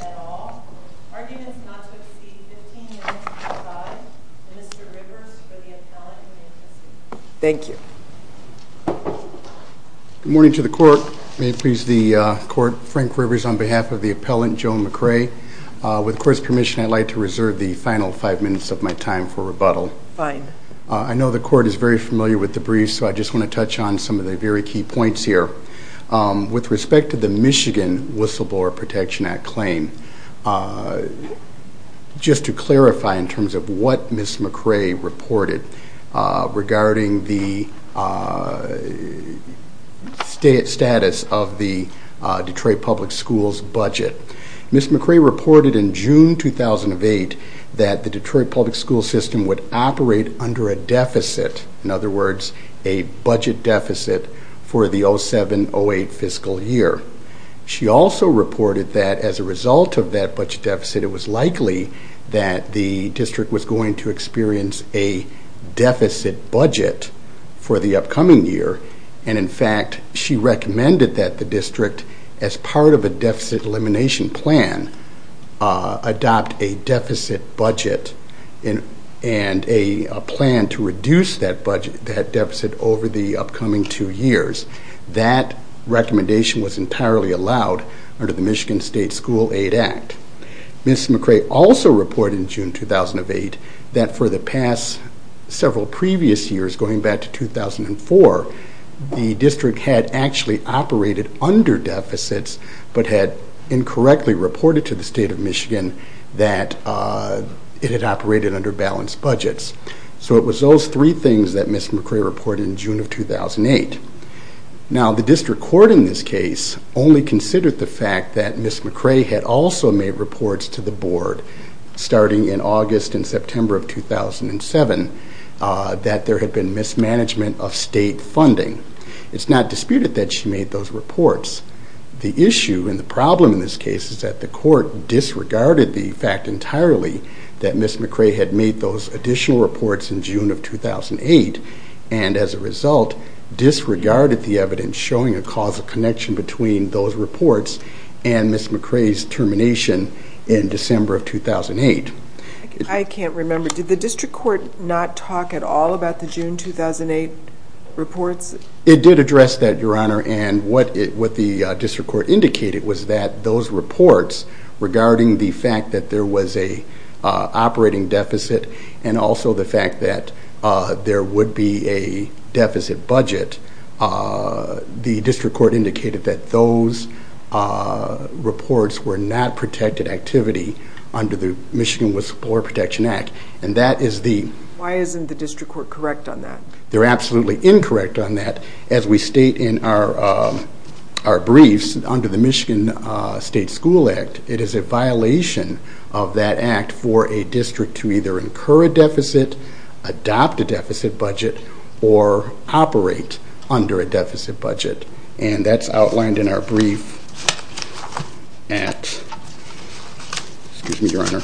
at all. Arguments not to exceed 15 minutes to decide. Mr. Rivers for the appellant. Thank you. Good morning to the court. May it please the court. Frank Rivers on behalf of the appellant Joan McCray. With the court's permission I'd like to reserve the final 5 minutes of my time for rebuttal. I know the court is very familiar with the briefs so I just want to touch on some of the very key points here. With respect to the Michigan Whistleblower Protection Act claim, just to clarify in terms of what Ms. McCray reported regarding the status of the Detroit Public Schools budget. Ms. McCray reported in June 2008 that the school system would operate under a deficit, in other words a budget deficit for the 07-08 fiscal year. She also reported that as a result of that budget deficit it was likely that the district was going to experience a deficit budget for the upcoming year and in fact she recommended that the district as part of a deficit elimination plan adopt a deficit budget and a plan to reduce that budget, that deficit over the upcoming two years. That recommendation was entirely allowed under the Michigan State School Aid Act. Ms. McCray also reported in June 2008 that for the past several previous years going back to 2004 the district had actually operated under deficits but had incorrectly reported to the state of Michigan that it operated under balanced budgets. So it was those three things that Ms. McCray reported in June of 2008. Now the district court in this case only considered the fact that Ms. McCray had also made reports to the board starting in August and September of 2007 that there had been mismanagement of state funding. It's not disputed that she made those reports. The issue and the problem in this case is that the court disregarded the fact entirely that Ms. McCray had made those additional reports in June of 2008 and as a result disregarded the evidence showing a causal connection between those reports and Ms. McCray's termination in December of 2008. I can't remember, did the district court not talk at all about the June 2008 reports? It did address that Your Honor and what the district court indicated was that those reports regarding the fact that there was a operating deficit and also the fact that there would be a deficit budget, the district court indicated that those reports were not protected activity under the Michigan with Supporter Protection Act and that is the Why isn't the district court correct on that? They're absolutely incorrect on that as we state in our briefs under the Michigan State School Act, it is a violation of that act for a district to either incur a deficit, adopt a deficit budget or operate under a deficit budget and that's outlined in our brief at, excuse me Your Honor,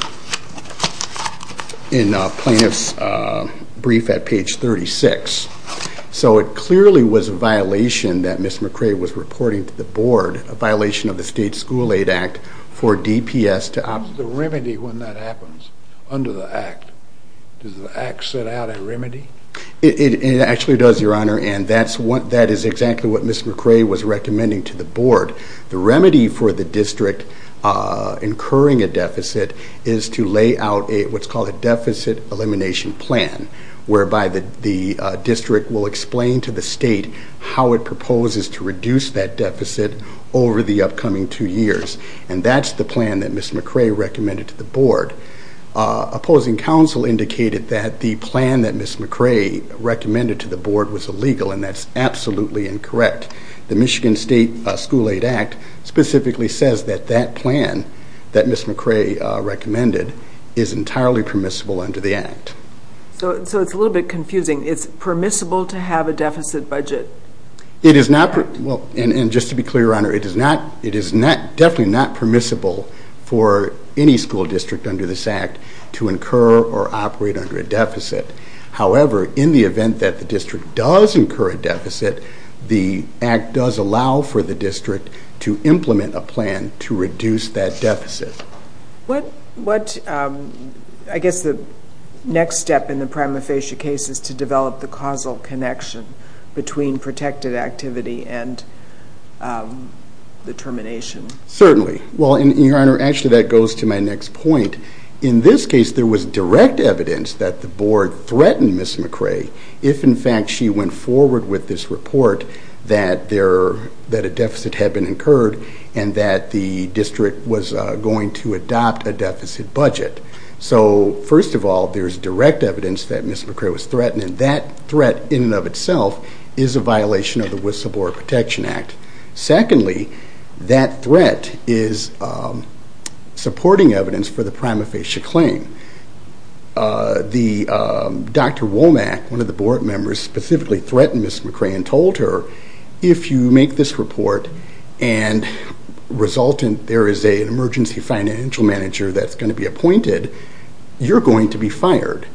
in Plaintiff's brief at page 36. So it clearly was a violation that Ms. McCray was reporting to the board, a violation of the State School Aid Act for DPS to opt... The remedy when that happens under the act, does the act set out a remedy? It actually does Your Honor and that is exactly what Ms. McCray was recommending to the board. The remedy for the district incurring a deficit is to lay out what's called a deficit elimination plan whereby the district will explain to the state how it proposes to reduce that deficit over the upcoming two years and that's the plan that Ms. McCray recommended to the board. Opposing counsel indicated that the plan that Ms. McCray recommended to the board was illegal and that's absolutely incorrect. The Michigan State School Aid Act specifically says that that plan that Ms. McCray recommended is entirely permissible under the act. So it's a little bit confusing. It's permissible to have a deficit budget? It is not, and just to be clear Your Honor, it is not, it is not, definitely not permissible for any school district under this act to incur or operate under a deficit. However, in the event that the district does incur a deficit, the act does allow for the district to implement a plan to reduce that deficit. What, what, I guess the next step in the prima facie case is to develop the causal connection between protected activity and the termination? Certainly. Well Your Honor, actually that goes to my next point. In this case, there was direct evidence that the board threatened Ms. McCray if in fact she went forward with this report that there, that a deficit had been incurred and that the district was going to adopt a deficit budget. So first of all, there's direct evidence that Ms. McCray was threatened and that threat in and of itself is a violation of the Wisla Board Protection Act. Secondly, that threat is supporting evidence for the prima facie claim. The, Dr. Womack, one of the board members specifically threatened Ms. McCray and told her if you make this report and result in there is an emergency financial manager that's going to be appointed, you're going to be fired.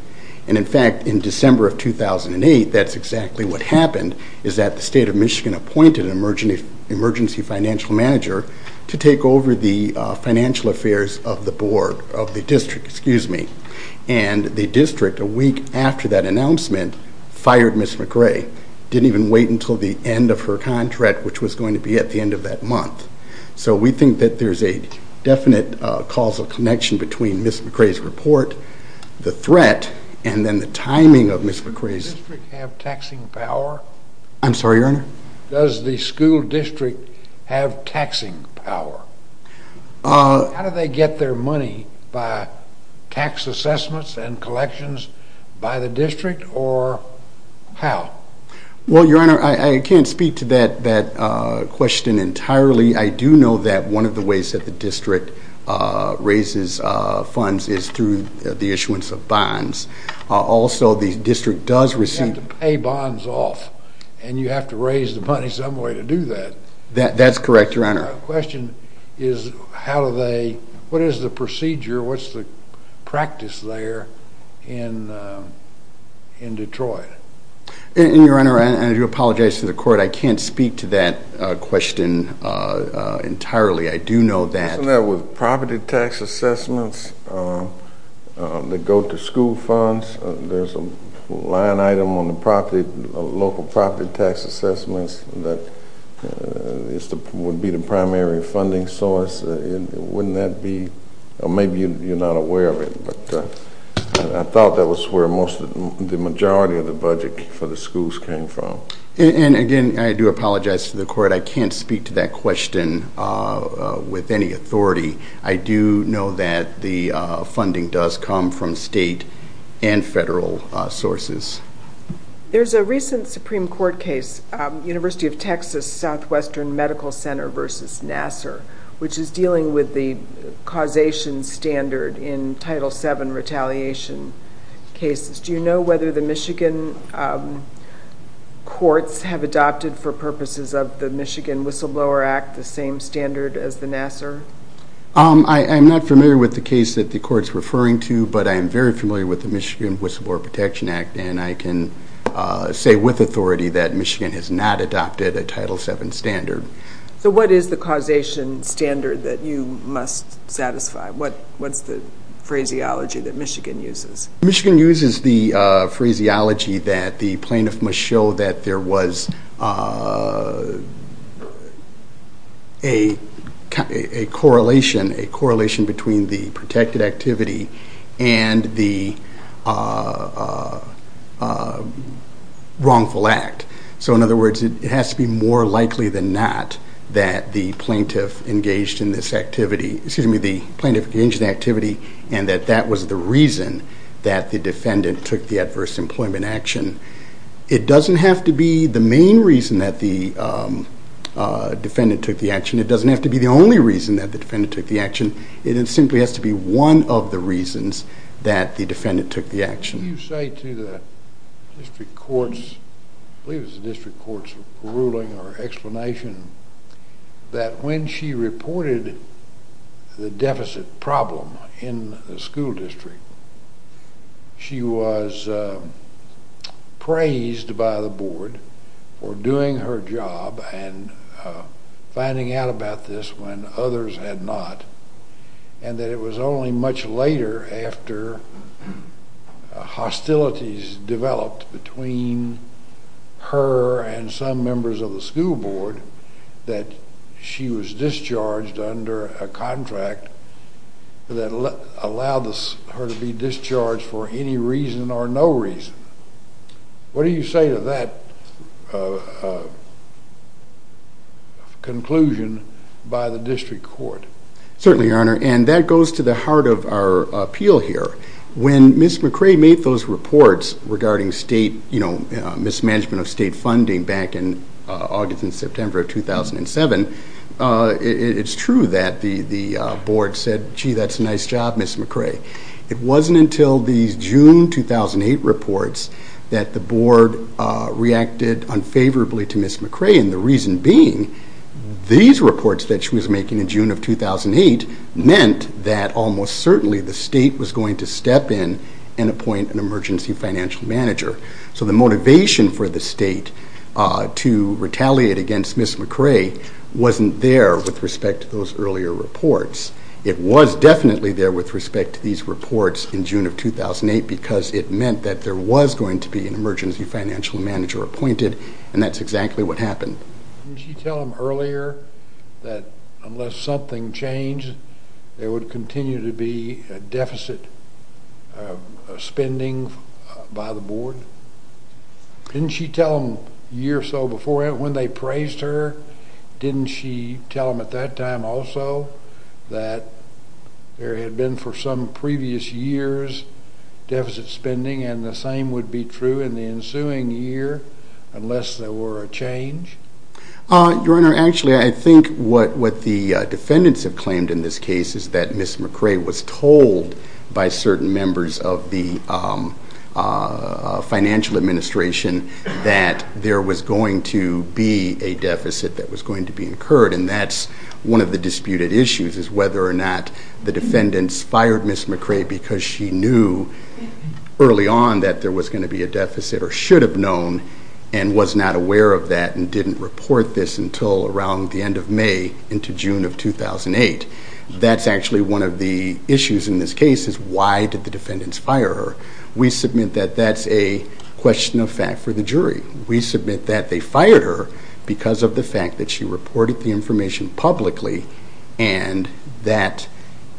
And in fact, in December of 2008, that's exactly what happened, is that the state of Michigan appointed an emergency financial manager to take over the financial affairs of the board, of the district, excuse me. And the district, a week after that announcement, fired Ms. McCray. Didn't even wait until the end of her contract, which was going to be at the end of that month. So we think that there's a definite causal connection between Ms. McCray's report, the threat, and then the timing of Ms. McCray's... Does the district have taxing power? I'm sorry, Your Honor? Does the school district have taxing power? How do they get their money? By tax assessments and collections by the district or how? Well, Your Honor, I can't speak to that question entirely. I do know that one of the ways that the district raises funds is through the issuance of bonds. Also, the district does receive... You have to pay bonds off, and you have to raise the money some way to do that. That's correct, Your Honor. My question is, what is the procedure, what's the practice there in Detroit? Your Honor, and I do apologize to the court, I can't speak to that question entirely. I do know that... As far as the school funds, there's a line item on the local property tax assessments that would be the primary funding source. Wouldn't that be... Maybe you're not aware of it, but I thought that was where the majority of the budget for the schools came from. And again, I do apologize to the court. I can't speak to that question with any authority. I do know that the funding does come from state and federal sources. There's a recent Supreme Court case, University of Texas Southwestern Medical Center versus Nassar, which is dealing with the causation standard in Title VII retaliation cases. Do you know whether the Michigan courts have adopted, for purposes of the Michigan Whistleblower Act, the same standard as the Nassar? I'm not familiar with the case that the court's referring to, but I am very familiar with the Michigan Whistleblower Protection Act, and I can say with authority that Michigan has not adopted a Title VII standard. So what is the causation standard that you must satisfy? What's the phraseology that Michigan uses? Michigan uses the phraseology that the plaintiff must show that there was a correlation between the protected activity and the wrongful act. So in other words, it has to be more likely than not that the plaintiff engaged in this activity and that that was the reason that the defendant took the adverse employment action. It doesn't have to be the main reason that the defendant took the action. It doesn't have to be the only reason that the defendant took the action. It simply has to be one of the reasons that the defendant took the action. Can you say to the district courts, I believe it was the district court's ruling or explanation, that when she reported the deficit problem in the school district, she was praised by the board for doing her job and finding out about this when others had not, and that it was only much later after hostilities developed between her and some members of the school board that she was discharged under a contract that allowed her to be discharged for any reason or no reason. What do you say to that conclusion by the district court? Certainly, your honor, and that goes to the heart of our appeal here. When Ms. McRae made those reports regarding state, you know, mismanagement of state funding back in August and September of 2007, it's true that the board and the school board said, gee, that's a nice job, Ms. McRae. It wasn't until the June 2008 reports that the board reacted unfavorably to Ms. McRae, and the reason being these reports that she was making in June of 2008 meant that almost certainly the state was going to step in and appoint an emergency financial manager. So the motivation for the state to step in, it was definitely there with respect to these reports in June of 2008 because it meant that there was going to be an emergency financial manager appointed, and that's exactly what happened. Didn't she tell them earlier that unless something changed, there would continue to be a deficit of spending by the board? Didn't she tell them a year or so before when they praised her, didn't she tell them at that time also that there had been for some previous years deficit spending, and the same would be true in the ensuing year unless there were a change? Your honor, actually I think what the defendants have claimed in this case is that Ms. McRae was told by certain members of the financial administration that there was going to be a deficit that was going to be incurred, and that's one of the disputed issues is whether or not the defendants fired Ms. McRae because she knew early on that there was going to be a deficit or should have known and was not aware of that and didn't report this until around the end of May into June of 2008. That's actually one of the issues in this case is why did the defendants fire her? We submit that that's a question of fact for the jury. We submit that they fired her because of the fact that she reported the information publicly and that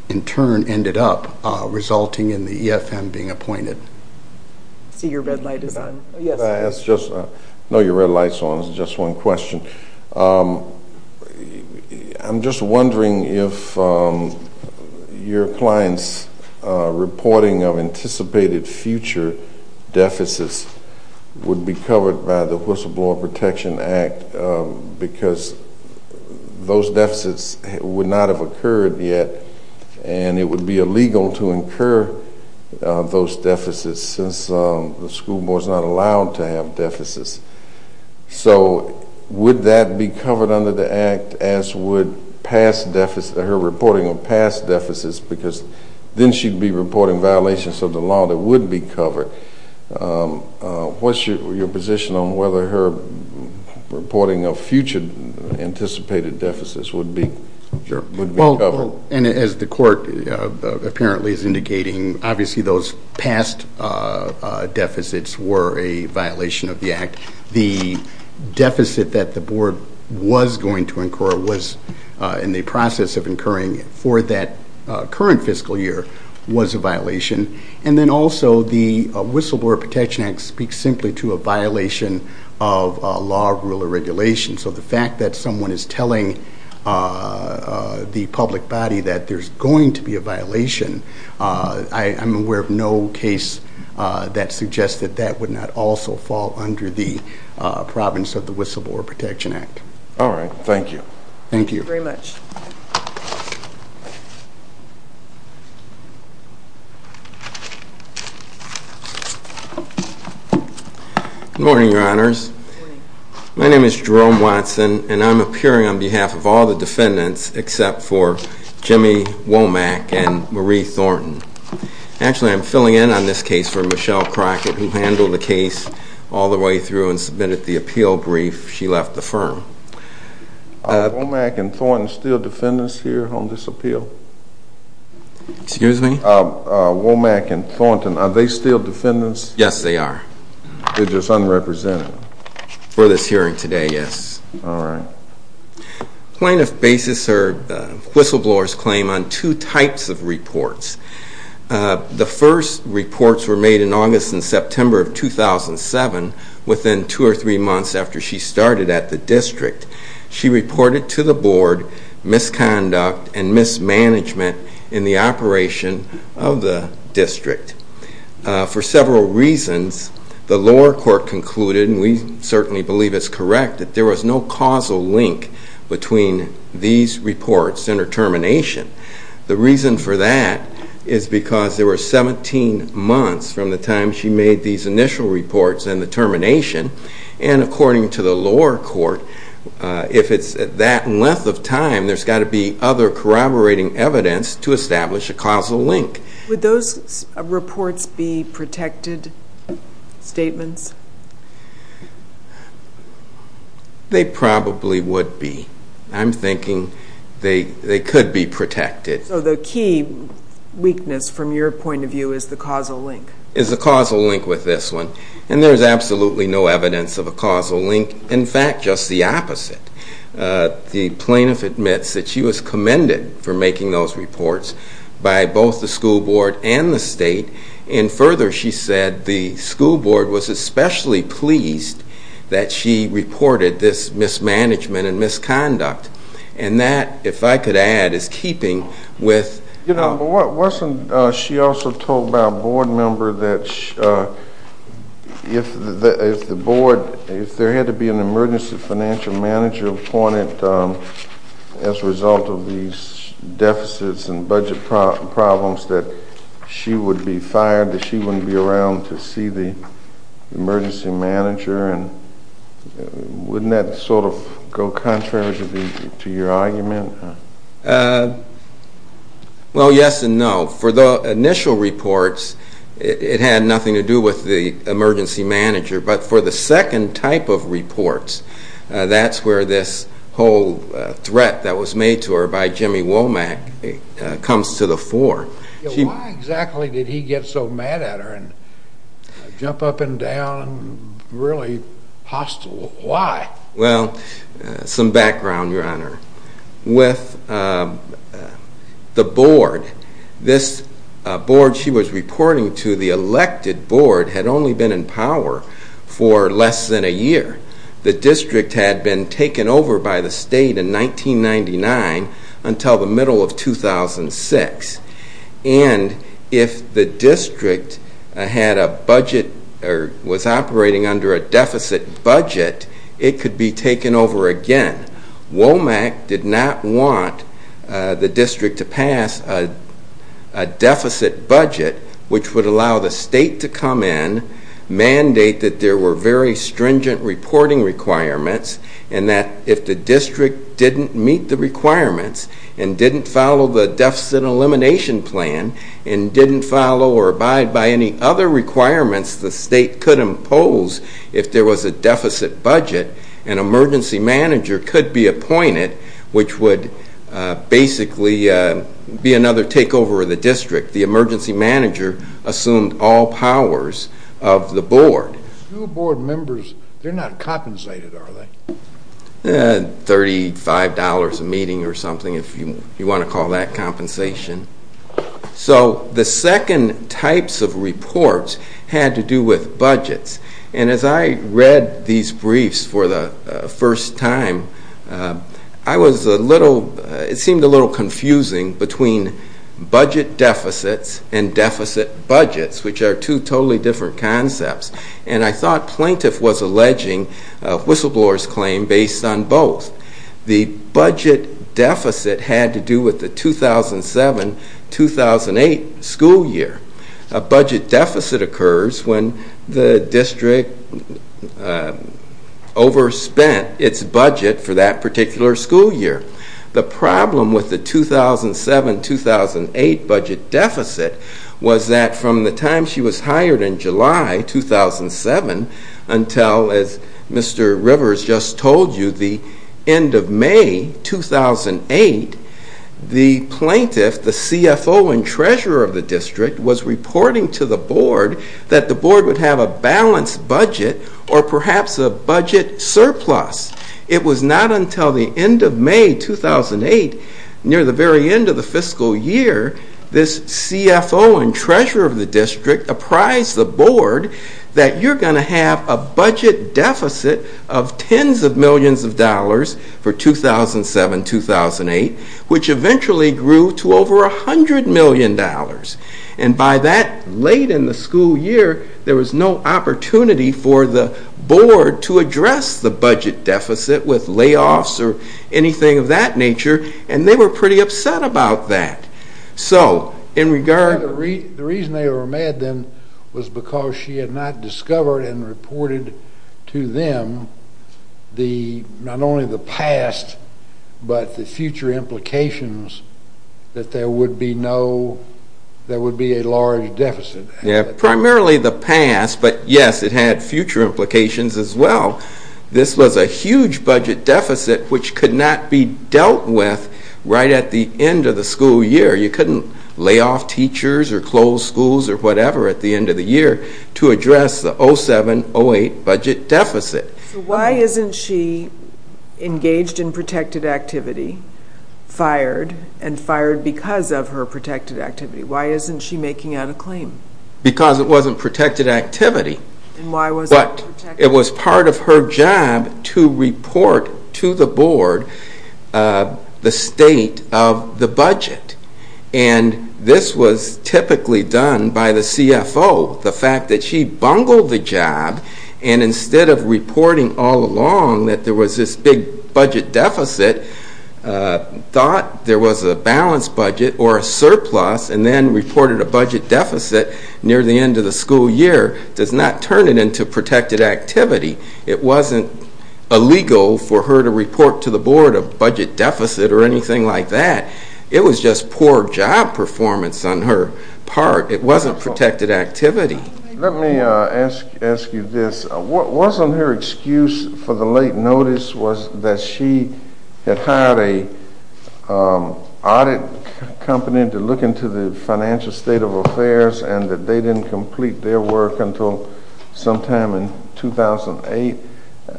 in turn ended up resulting in the EFM being appointed. So your red light is on. Can I ask just, I know your red light is on, it's just one question. I'm just wondering if your client's reporting of anticipated future deficits would be a covered by the Whistleblower Protection Act because those deficits would not have occurred yet and it would be illegal to incur those deficits since the school board is not allowed to have deficits. So would that be covered under the act as would her reporting of past deficits because then she'd be reporting violations of the law that would be covered. What's your position on whether her reporting of future anticipated deficits would be covered? And as the court apparently is indicating, obviously those past deficits were a violation of the act. The deficit that the board was going to incur was in the process of incurring for that current fiscal year was a violation. And then also the Whistleblower Protection Act speaks simply to a violation of law, rule, or regulation. So the fact that someone is telling the public body that there's going to be a violation, I'm aware of no case that suggests that that would not also fall under the province of the Whistleblower Protection Act. All right. Thank you. Thank you. Good morning, Your Honors. My name is Jerome Watson and I'm appearing on behalf of all the defendants except for Jimmy Womack and Marie Thornton. Actually, I'm filling in on this case for Michelle Crockett who handled the case all the way through and submitted the term. Are Womack and Thornton still defendants here on this appeal? Excuse me? Womack and Thornton, are they still defendants? Yes, they are. They're just unrepresented? For this hearing today, yes. All right. Plaintiff basis her whistleblower's claim on two types of reports. The first reports were made in August and September of 2007 within two or three months after she started at the district. She reported to the board misconduct and mismanagement in the operation of the district. For several reasons, the lower court concluded, and we certainly believe it's correct, that there was no causal link between these reports and her termination. The reason for that is because there were no causal links between her termination and, according to the lower court, if it's that length of time, there's got to be other corroborating evidence to establish a causal link. Would those reports be protected statements? They probably would be. I'm thinking they could be protected. So the key weakness from your point of view is the causal link? Is the causal link with this one. And there's absolutely no evidence of a causal link. In fact, just the opposite. The plaintiff admits that she was commended for making those reports by both the school board and the state. And further, she said the school board was especially pleased that she reported this mismanagement and misconduct. And that, if I could add, is keeping with the school board. You know, wasn't she also told by a board member that if the board, if there had to be an emergency financial manager appointed as a result of these deficits and budget problems, that she would be fired, that she wouldn't be around to see the emergency manager? And wouldn't that sort of go contrary to your argument? Well, yes and no. For the initial reports, it had nothing to do with the emergency manager. But for the second type of reports, that's where this whole threat that was made to her by Jimmy Womack comes to the fore. Why exactly did he get so mad at her and jump up and down and really hostile? Why? Well, some background, Your Honor. With the board, this board she was reporting to, the elected board, had only been in power for less than a year. The district had been taken over by the state in 1999 until the middle of 2006. And if the district had a budget or was operating under a deficit budget, it could be taken over again. Womack did not want the district to pass a deficit budget which would allow the state to come in, mandate that there were very stringent reporting requirements, and that if the district didn't meet the requirements and didn't follow the deficit elimination plan and didn't follow or abide by any other requirements the state could impose if there was a deficit budget, an emergency manager could be appointed, which would basically be another takeover of the district. The emergency manager assumed all powers of the board. Do board members, they're not compensated, are they? Thirty-five dollars a meeting or something, if you want to call that compensation. So the second types of reports had to do with budgets. And as I read these briefs for the first time, I was a little, it seemed a little confusing between budget deficits and deficit budgets, which are two totally different concepts. And I thought Plaintiff was alleging Whistleblower's claim based on both. The budget deficit had to do with the 2007-2008 budget deficits. School year. A budget deficit occurs when the district overspent its budget for that particular school year. The problem with the 2007-2008 budget deficit was that from the time she was hired in July 2007 until, as Mr. Rivers just told you, the end of May 2008, the plaintiff, the CFO and treasurer of the district, was reporting to the board that the board would have a balanced budget or perhaps a budget surplus. It was not until the end of May 2008, near the very end of the fiscal year, this CFO and treasurer of the district apprised the board that you're going to have a budget deficit of tens of millions, which eventually grew to over a hundred million dollars. And by that late in the school year, there was no opportunity for the board to address the budget deficit with layoffs or anything of that nature, and they were pretty upset about that. So in regard to... The reason they were mad then was because she had not discovered and reported to them the, not only the past, but the future implications that there would be no, there would be a large deficit. Yeah, primarily the past, but yes, it had future implications as well. This was a huge budget deficit which could not be dealt with right at the end of the school year. You couldn't lay off teachers or close schools or whatever at the end of the year to address the 2007-2008 budget deficit. Why isn't she engaged in protected activity, fired, and fired because of her protected activity? Why isn't she making out a claim? Because it wasn't protected activity, but it was part of her job to report to the board the state of the budget, and this was typically done by the CFO. The fact that she bungled the job and instead of reporting all along that there was this big budget deficit, thought there was a balanced budget or a surplus and then reported a budget deficit near the end of the school year does not turn it into protected activity. It wasn't illegal for her to report to the board a budget deficit or anything like that. It was just poor job performance on her part. It wasn't protected activity. Let me ask you this. Wasn't her excuse for the late notice was that she had hired an audit company to look into the financial state of affairs and that they didn't complete their work until sometime in 2008?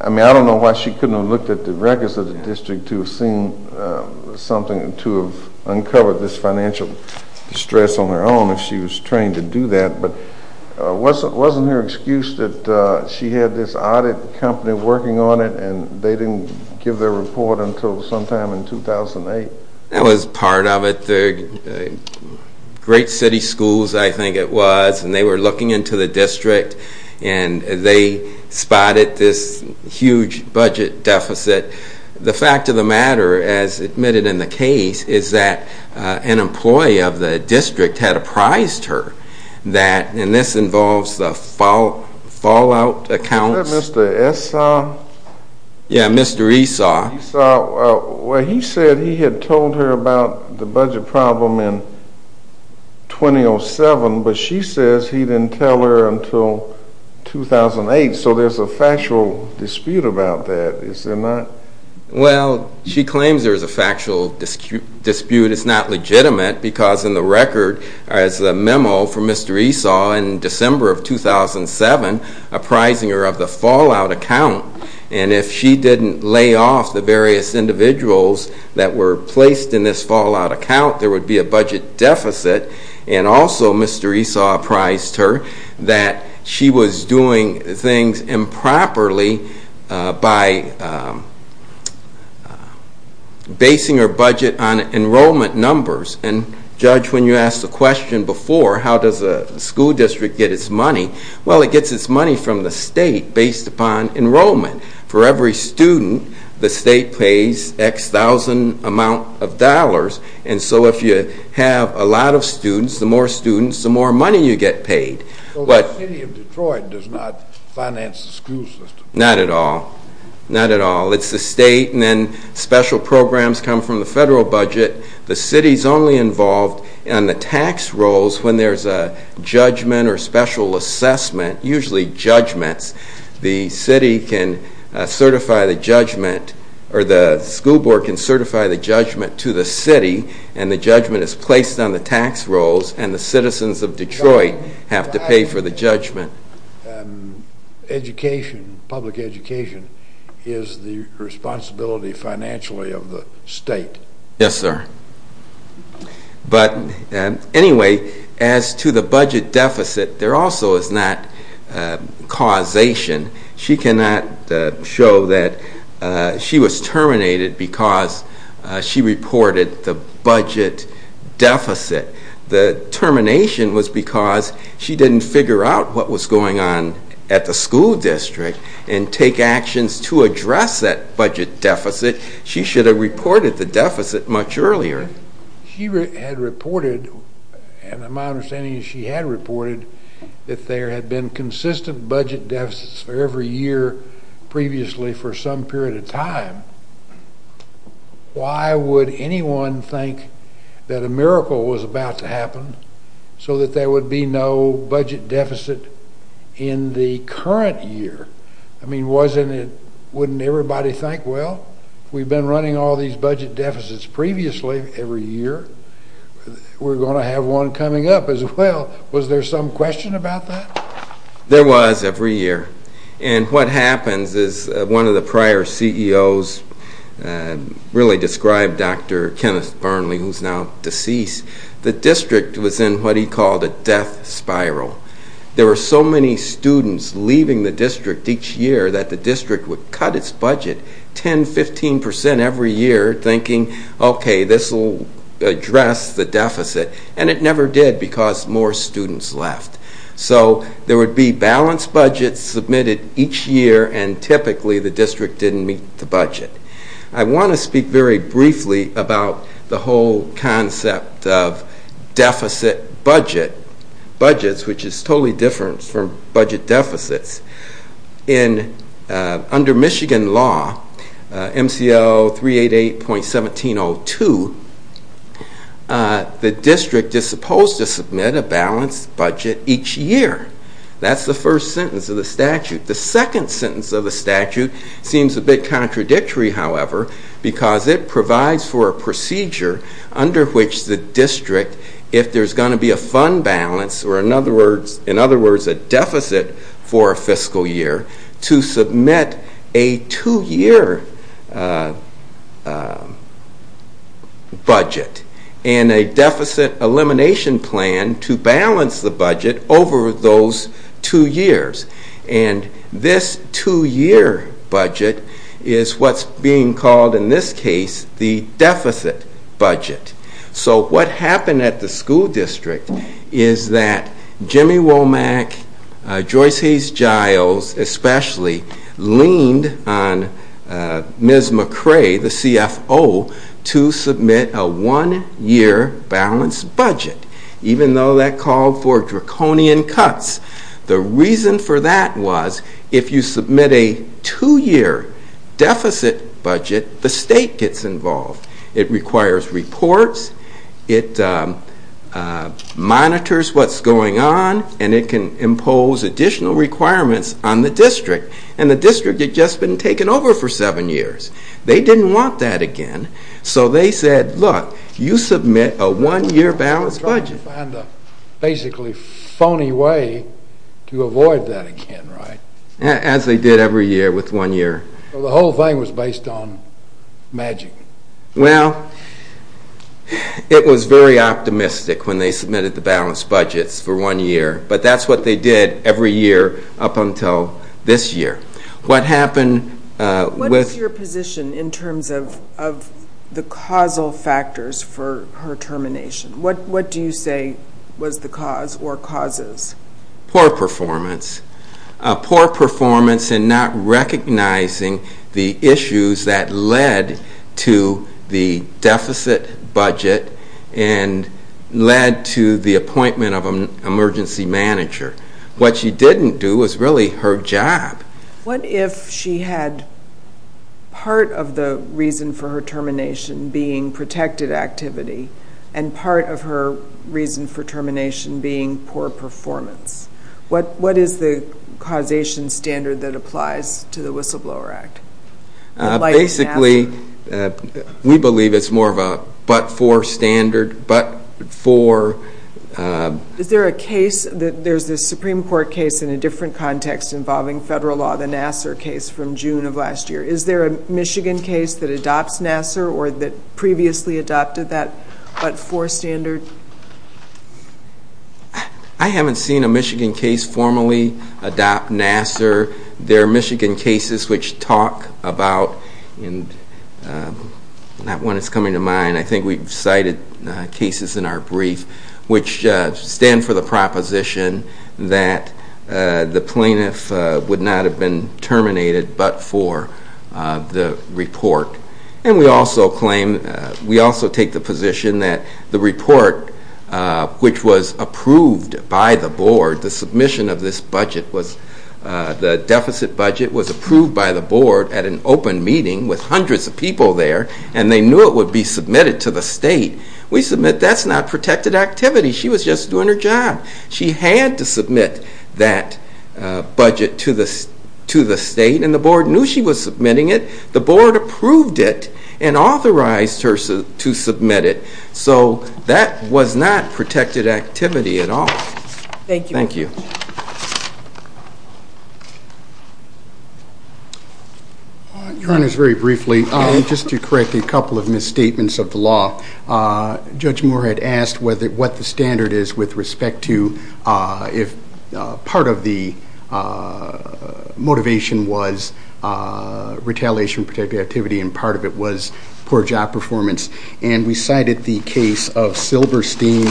I mean, I don't know why she couldn't have looked at the records of the district to have seen something to have uncovered this financial distress on her own if she was trained to do that, but wasn't her excuse that she had this audit company working on it and they didn't give their report until sometime in 2008? That was part of it. Great City Schools, I think it was, and they were looking into the district and they spotted this huge budget deficit. The fact of the matter, as admitted in the case, is that an employee of the district had apprised her that, and this involves the fallout accounts. Was that Mr. Esaw? Yeah, Mr. Esaw. Esaw, well, he said he had told her about the budget problem in 2007, but she says he didn't tell her until 2008, so there's a factual dispute about that, is there not? Well, she claims there's a factual dispute. It's not legitimate because in the record, as a memo from Mr. Esaw in December of 2007, apprising her of the fallout account, and if she didn't lay off the various individuals that were placed in this fallout account, there would be a budget deficit, and also Mr. Esaw apprised her that she was doing things improperly by basing her budget on enrollment numbers, and Judge, when you asked the question before, how does a school district get its money, well, it gets its money from the state based upon enrollment. For every student, the state pays X thousand amount of dollars, and so if you have a lot of students, the more students, the more money you get paid. So the city of Detroit does not finance the school system? Not at all. Not at all. It's the state, and then special programs come from the federal budget. The city's only involved in the tax rolls when there's a judgment or special assessment, usually judgments. The city can certify the judgment, or the school board can certify the judgment to the city, and the judgment is placed on the tax rolls, and the citizens of Detroit have to pay for the judgment. Education, public education, is the responsibility financially of the state? Yes, sir. But anyway, as to the budget deficit, there also is not causation. She cannot show that she was terminated because she reported the budget deficit. The termination was a because she didn't figure out what was going on at the school district and take actions to address that budget deficit. She should have reported the deficit much earlier. She had reported, and my understanding is she had reported, that there had been consistent budget deficits for every year previously for some period of time. Why would anyone think that a miracle was about to happen so that there would be no budget deficit in the current year? I mean, wasn't it, wouldn't everybody think, well, we've been running all these budget deficits previously every year. We're going to have one coming up as well. Was there some question about that? There was every year, and what happens is one of the prior CEOs really described Dr. Kenneth Burnley, who's now deceased, the district was in what he called a death spiral. There were so many students leaving the district each year that the district would cut its budget 10, 15 percent every year thinking, okay, this will address the deficit, and it never did because more students left. So there would be balanced budgets submitted each year and typically the district didn't meet the budget. I want to speak very briefly about the whole concept of deficit budget, budgets, which is totally different from budget deficits. Under Michigan law, MCL 388.1702, the district is supposed to submit a balanced budget each year. That's the first sentence of the statute. The second sentence of the statute seems a bit contradictory, however, because it provides for a procedure under which the district, if there's going to be a fund balance, or in other words, a deficit for a fiscal year, to submit a two-year budget and a deficit elimination plan to balance the budget over those two years. And this two-year budget is what's being called in this case the deficit budget. So what happened at the school district is that Jimmy Womack, Joyce Hayes-Giles especially, leaned on Ms. McCray, the CFO, to submit a one-year balanced budget, and that budget was a deficit budget, even though that called for draconian cuts. The reason for that was if you submit a two-year deficit budget, the state gets involved. It requires reports, it monitors what's going on, and it can impose additional requirements on the district, and the district had just been taken over for seven years. They didn't want that again, so they said, look, you submit a one-year balanced budget. So they were trying to find a basically phony way to avoid that again, right? As they did every year with one year. Well, the whole thing was based on magic. Well, it was very optimistic when they submitted the balanced budgets for one year, but that's what they did every year up until this year. What happened with... In terms of the causal factors for her termination, what do you say was the cause or causes? Poor performance. Poor performance in not recognizing the issues that led to the deficit budget and led to the appointment of an emergency manager. What she didn't do was really her job. What if she had part of the reason for her termination being protected activity and part of her reason for termination being poor performance? What is the causation standard that applies to the Whistleblower Act? Basically, we believe it's more of a but-for standard, but for... Is there a case, there's this Supreme Court case in a different context involving federal law, the Nassar case from June of last year. Is there a Michigan case that adopts Nassar or that previously adopted that but-for standard? I haven't seen a Michigan case formally adopt Nassar. There are Michigan cases which talk about... Not one that's coming to mind. I think we've cited cases in our brief which stand for the proposition that the plaintiff would not have been terminated but for the report. And we also claim... We also take the position that the report which was approved by the board, the submission of this budget was... The deficit budget was approved by the board at an open meeting with hundreds of people there, and they knew it would be just doing their job. She had to submit that budget to the state, and the board knew she was submitting it. The board approved it and authorized her to submit it. So that was not protected activity at all. Thank you. Your Honor, very briefly, just to correct a couple of misstatements of the law. Judge standard is with respect to if part of the motivation was retaliation protected activity and part of it was poor job performance. And we cited the case of Silberstein...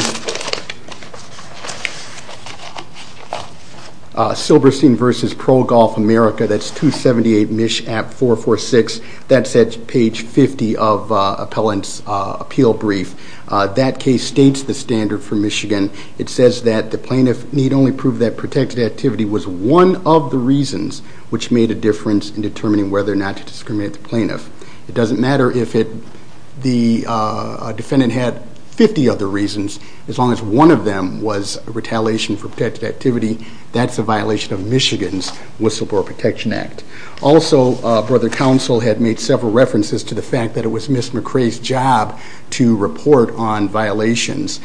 Silberstein versus Pro Golf America. That's 278 MISHAP446. That's at page 50 of appellant's appeal brief. That case states the standard for Michigan. It says that the plaintiff need only prove that protected activity was one of the reasons which made a difference in determining whether or not to discriminate the plaintiff. It doesn't matter if the defendant had 50 other reasons, as long as one of them was retaliation for protected activity, that's a violation of Michigan's Whistleblower Protection Act. Also, brother counsel had made several references to the fact that it was Ms. McCray's job to report on violations.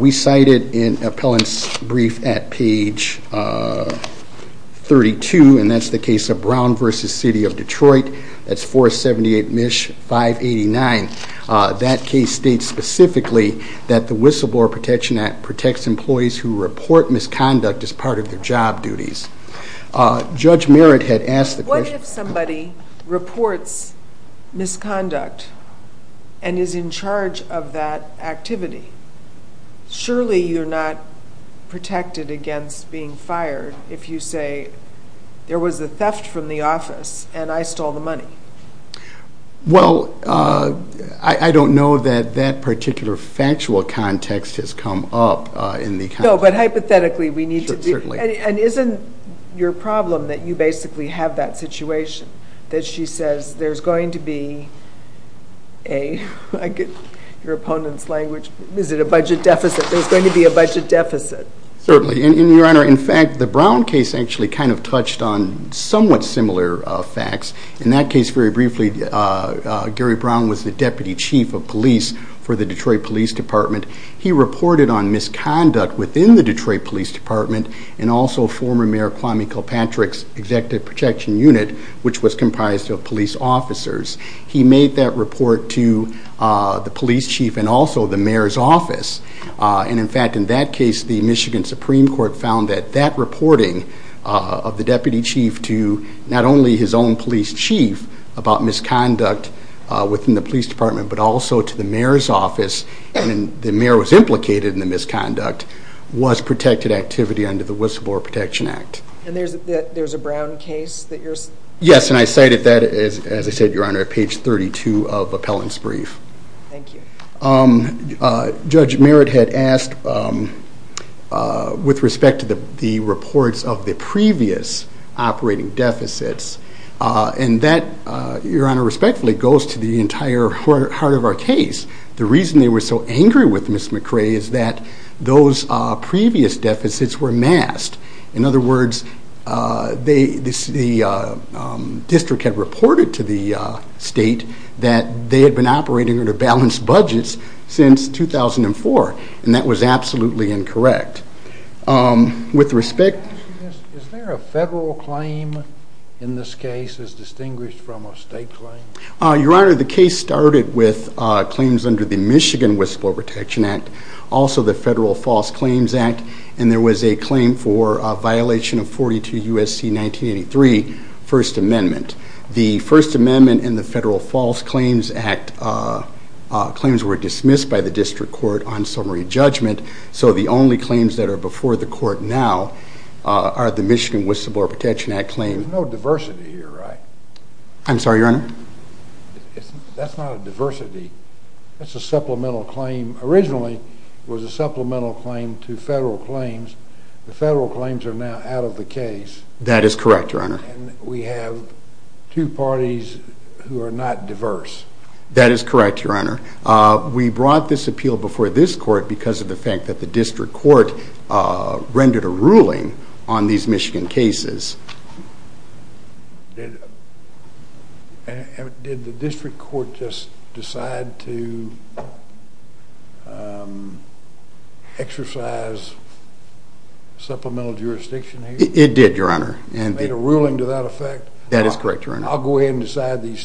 We cited in appellant's brief at page 32, and that's the case of Brown versus City of Detroit. That's 478 MISH589. That case states specifically that the Whistleblower Protection Act protects employees who report misconduct as part of their job duties. Judge Merritt had asked the question... What if somebody reports misconduct and is in charge of that activity? Surely you're not protected against being fired if you say, there was a theft from the office and I stole the money. Well, I don't know that that particular factual context has come up in the... No, but hypothetically we need to be... Sure, certainly. And isn't your problem that you basically have that situation? That she says, there's going to be a... I get your opponent's language. Is it a budget deficit? There's going to be a budget deficit. Certainly. And your honor, in fact, the Brown case actually kind of touched on somewhat similar facts. In that case, very briefly, Gary Brown was the deputy chief of police for the Detroit Police Department. He reported on misconduct within the Detroit Police Department and also former Mayor Kwame Kilpatrick's Executive Protection Unit, which was comprised of police officers. He made that report to the police chief and also the mayor's office. And in fact, in that case, the Michigan Supreme Court found that that reporting of the deputy chief to not only his own police chief about misconduct within the police department, but also to the mayor's office, and the mayor was implicated in the misconduct, was protected activity under the Whistleblower Protection Act. And there's a Brown case that you're... Yes, and I cited that, as I said, your honor, at page 32 of appellant's brief. Thank you. Judge Merritt had asked with respect to the reports of the previous operating deficits, and that, your honor, respectfully goes to the entire heart of our case. The reason they were so angry with Ms. McRae is that those previous deficits were masked. In other words, the district had reported to the state that they had been operating under balanced budgets since 2004, and that was absolutely incorrect. With respect... Is there a federal claim in this case as distinguished from a state claim? Your honor, the case started with claims under the Michigan Whistleblower Protection Act, also the Federal False Claims Act, and there was a claim for a violation of 42 U.S.C. 1983 First Amendment. The First Amendment and the Federal False Claims Act claims were dismissed by the district court on summary judgment, so the only claims that are before the court now are the Michigan Whistleblower Protection Act claim. There's no diversity here, right? I'm sorry, your honor? That's not a diversity. That's a supplemental claim. Originally, it was a supplemental claim to federal claims. The federal claims are now out of the case. That is correct, your honor. We have two parties who are not diverse. That is correct, your honor. We brought this appeal before this court because of the fact that the district court rendered a ruling on these Michigan cases. Did the district court just decide to exercise supplemental jurisdiction here? It did, your honor. Made a ruling to that effect? That is correct, your honor. I'll go ahead and decide the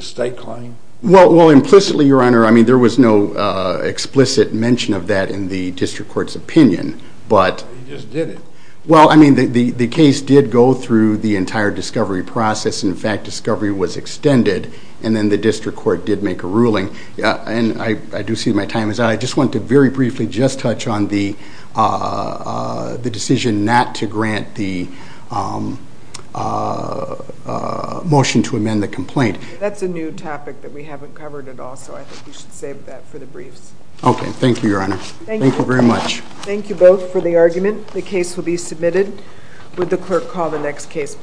state claim? Implicitly, your honor, there was no explicit mention of that in the district court's opinion. He just did it. The case did go through the entire discovery process. In fact, discovery was extended, and then the district court did make a ruling. I do see my time is up. I just want to very briefly just touch on the decision not to grant the motion to amend the complaint. That's a new topic that we haven't covered at all, so I think we should save that for the briefs. Okay, thank you, your honor. Thank you very much. Thank you both for the argument. The case will be submitted. Would the clerk call the next case, please?